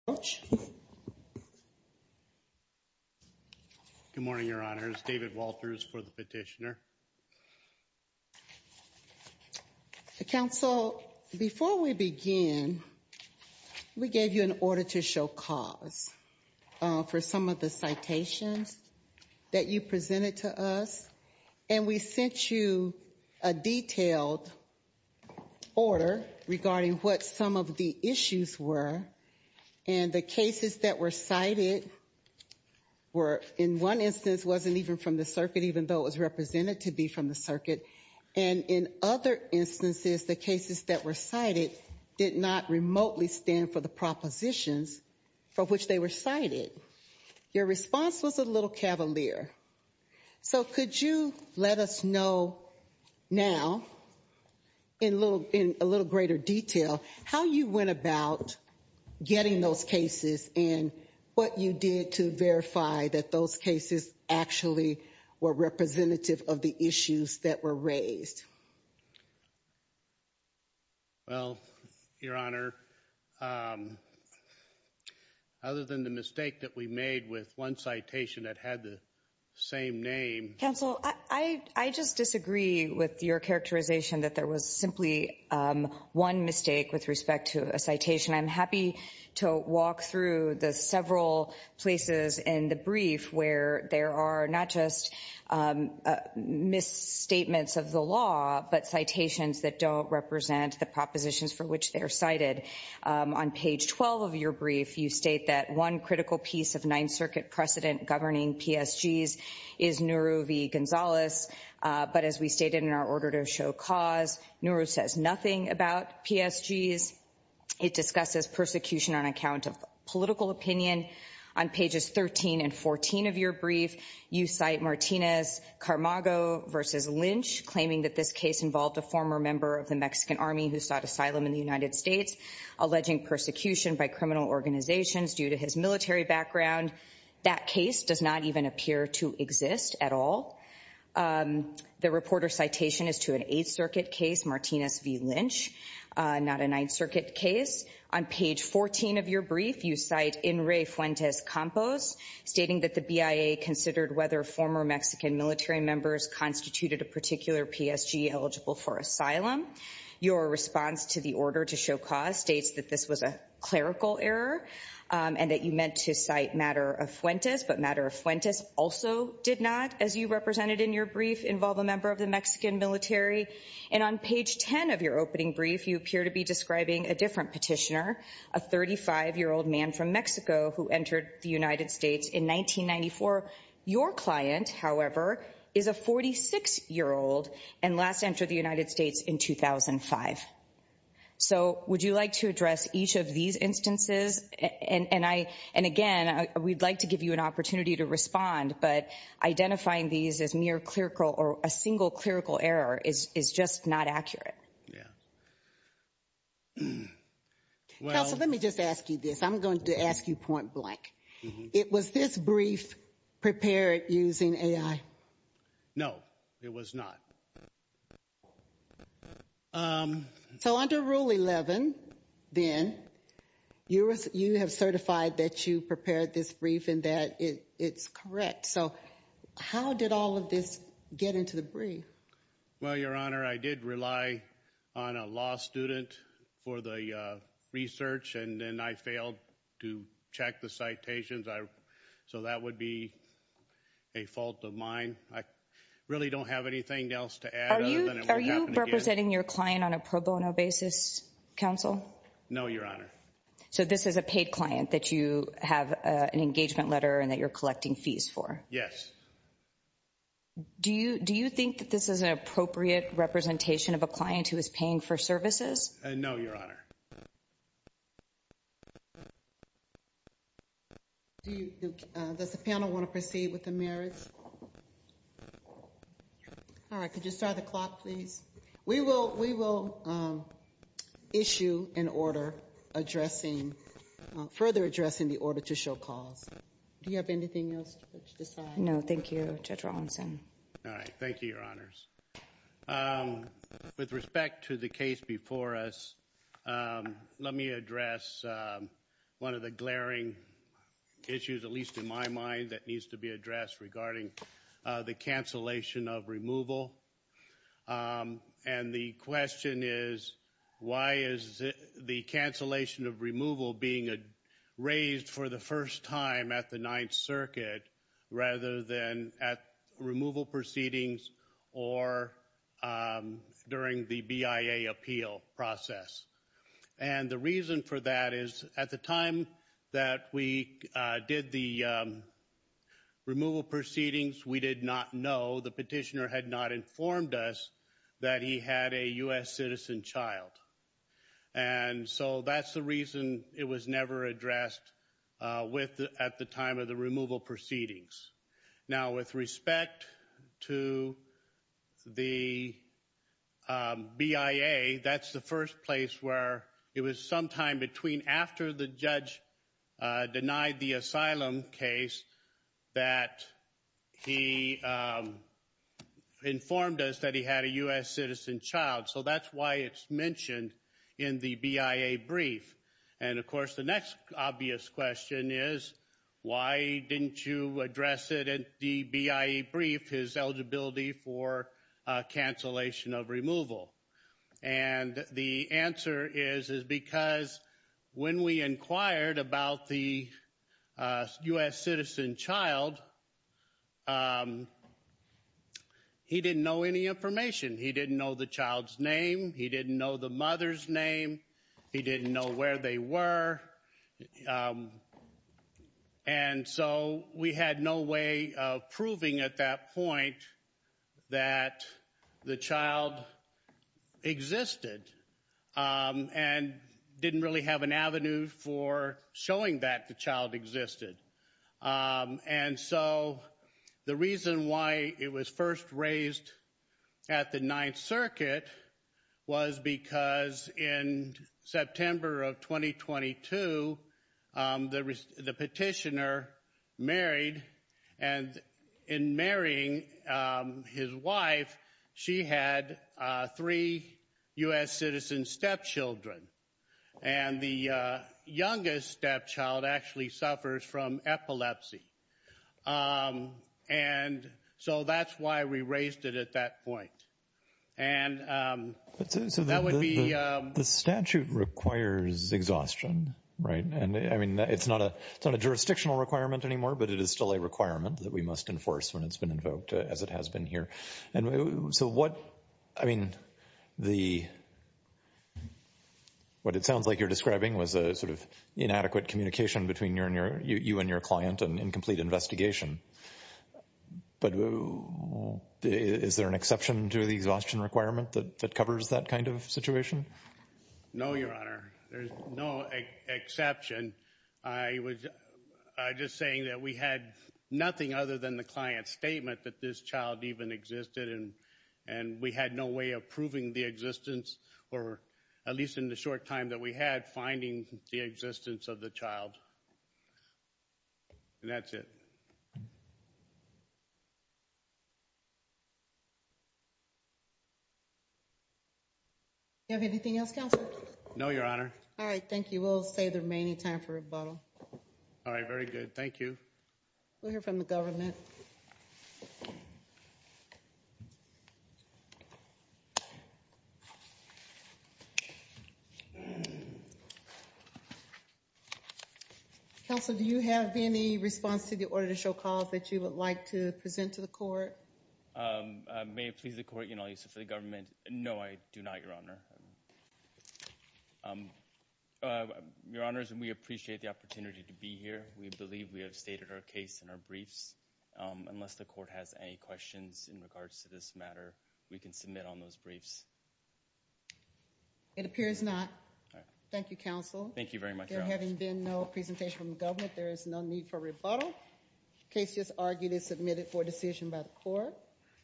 Good morning, Your Honors. David Walters for the petitioner. Counsel, before we begin, we gave you an order to show cause for some of the citations that you presented to us. And we sent you a detailed order regarding what some of the issues were. And the cases that were cited were, in one instance, wasn't even from the circuit, even though it was represented to be from the circuit. And in other instances, the cases that were cited did not remotely stand for the propositions for which they were cited. Your response was a little cavalier. So could you let us know now, in a little greater detail, how you went about getting those cases and what you did to verify that those cases actually were representative of the issues that were raised? Well, Your Honor, other than the mistake that we made with one citation that had the same name. Counsel, I just disagree with your characterization that there was simply one mistake with respect to a citation. I'm happy to walk through the several places in the brief where there are not just misstatements of the law, but citations that don't represent the propositions for which they are cited. On page 12 of your brief, you state that one critical piece of Ninth Circuit precedent governing PSGs is Nuru v. Gonzalez. But as we stated in our order to show cause, Nuru says nothing about PSGs. It discusses persecution on account of political opinion. On pages 13 and 14 of your brief, you cite Martinez-Carmago v. Lynch, claiming that this case involved a former member of the Mexican army who sought asylum in the United States, alleging persecution by criminal organizations due to his military background. That case does not even appear to exist at all. The reporter's citation is to an Eighth Circuit case, Martinez v. Lynch, not a Ninth Circuit case. On page 14 of your brief, you cite Enri Fuentes Campos, stating that the BIA considered whether former Mexican military members constituted a particular PSG eligible for asylum. Your response to the order to show cause states that this was a clerical error and that you meant to cite Matter of Fuentes, but Matter of Fuentes also did not, as you represented in your brief, involve a member of the Mexican military. And on page 10 of your opening brief, you appear to be describing a different petitioner, a 35-year-old man from Mexico who entered the United States in 1994. Your client, however, is a 46-year-old and last entered the United States in 2005. So would you like to address each of these instances? And again, we'd like to give you an opportunity to respond, but identifying these as mere clerical or a single clerical error is just not accurate. Counsel, let me just ask you this. I'm going to ask you point blank. It was this brief prepared using AI? No, it was not. So under Rule 11, then, you have certified that you prepared this brief and that it's correct. So how did all of this get into the brief? Well, Your Honor, I did rely on a law student for the research, and then I failed to check the citations. So that would be a fault of mine. I really don't have anything else to add other than it won't happen again. Are you representing your client on a pro bono basis, Counsel? No, Your Honor. So this is a paid client that you have an engagement letter and that you're collecting fees for? Yes. Do you think that this is an appropriate representation of a client who is paying for services? No, Your Honor. Does the panel want to proceed with the merits? All right. Could you start the clock, please? We will issue an order addressing, further addressing the order to show cause. Do you have anything else to decide? No, thank you, Judge Rawlinson. All right. Thank you, Your Honors. With respect to the case before us, let me address one of the glaring issues, at least in my mind, that needs to be addressed regarding the cancellation of removal. And the question is, why is the cancellation of removal being raised for the first time at the Ninth Circuit rather than at removal proceedings or during the BIA appeal process? And the reason for that is, at the time that we did the removal proceedings, we did not know, the petitioner had not informed us that he had a U.S. citizen child. And so that's the reason it was never addressed at the time of the removal proceedings. Now, with respect to the BIA, that's the first place where it was sometime between after the judge denied the asylum case that he informed us that he had a U.S. citizen child. So that's why it's mentioned in the BIA brief. And of course, the next obvious question is, why didn't you address it at the BIA brief, his eligibility for cancellation of removal? And the answer is, is because when we inquired about the U.S. citizen child, he didn't know any information. He didn't know the child's name. He didn't know the mother's name. He didn't know where they were. And so we had no way of proving at that point that the child existed and didn't really have an avenue for showing that the child existed. And so the reason why it was first raised at the Ninth Circuit was because in September of 2022, the petitioner married. And in marrying his wife, she had three U.S. citizen stepchildren. And the youngest stepchild actually suffers from epilepsy. And so that's why we raised it at that point. And that would be... The statute requires exhaustion, right? And I mean, it's not a jurisdictional requirement anymore, but it is still a requirement that we must enforce when it's been invoked, as it has been here. And so what, I mean, what it sounds like you're describing was a sort of inadequate communication between you and your client and incomplete investigation. But is there an exception to the exhaustion requirement that covers that kind of situation? No, Your Honor. There's no exception. I was just saying that we had nothing other than the client's statement that this child even existed, and we had no way of proving the existence, or at least in the short time that we had, finding the existence of the child. And that's it. Do you have anything else, Counselor? No, Your Honor. All right. Thank you. We'll save the remaining time for rebuttal. All right. Very good. Thank you. We'll hear from the government. Counsel, do you have any response to the order to show cause that you would like to present to the court? May it please the court, Your Honor, I'll use it for the government. No, I do not, Your Honor. Your Honors, we appreciate the opportunity to be here. We believe we have stated our case in our briefs. Unless the court has any questions in regards to this matter, we can submit on those briefs. It appears not. Thank you, Counsel. Thank you very much, Your Honor. There having been no presentation from the government, there is no need for rebuttal. The case is argued and submitted for decision by the court.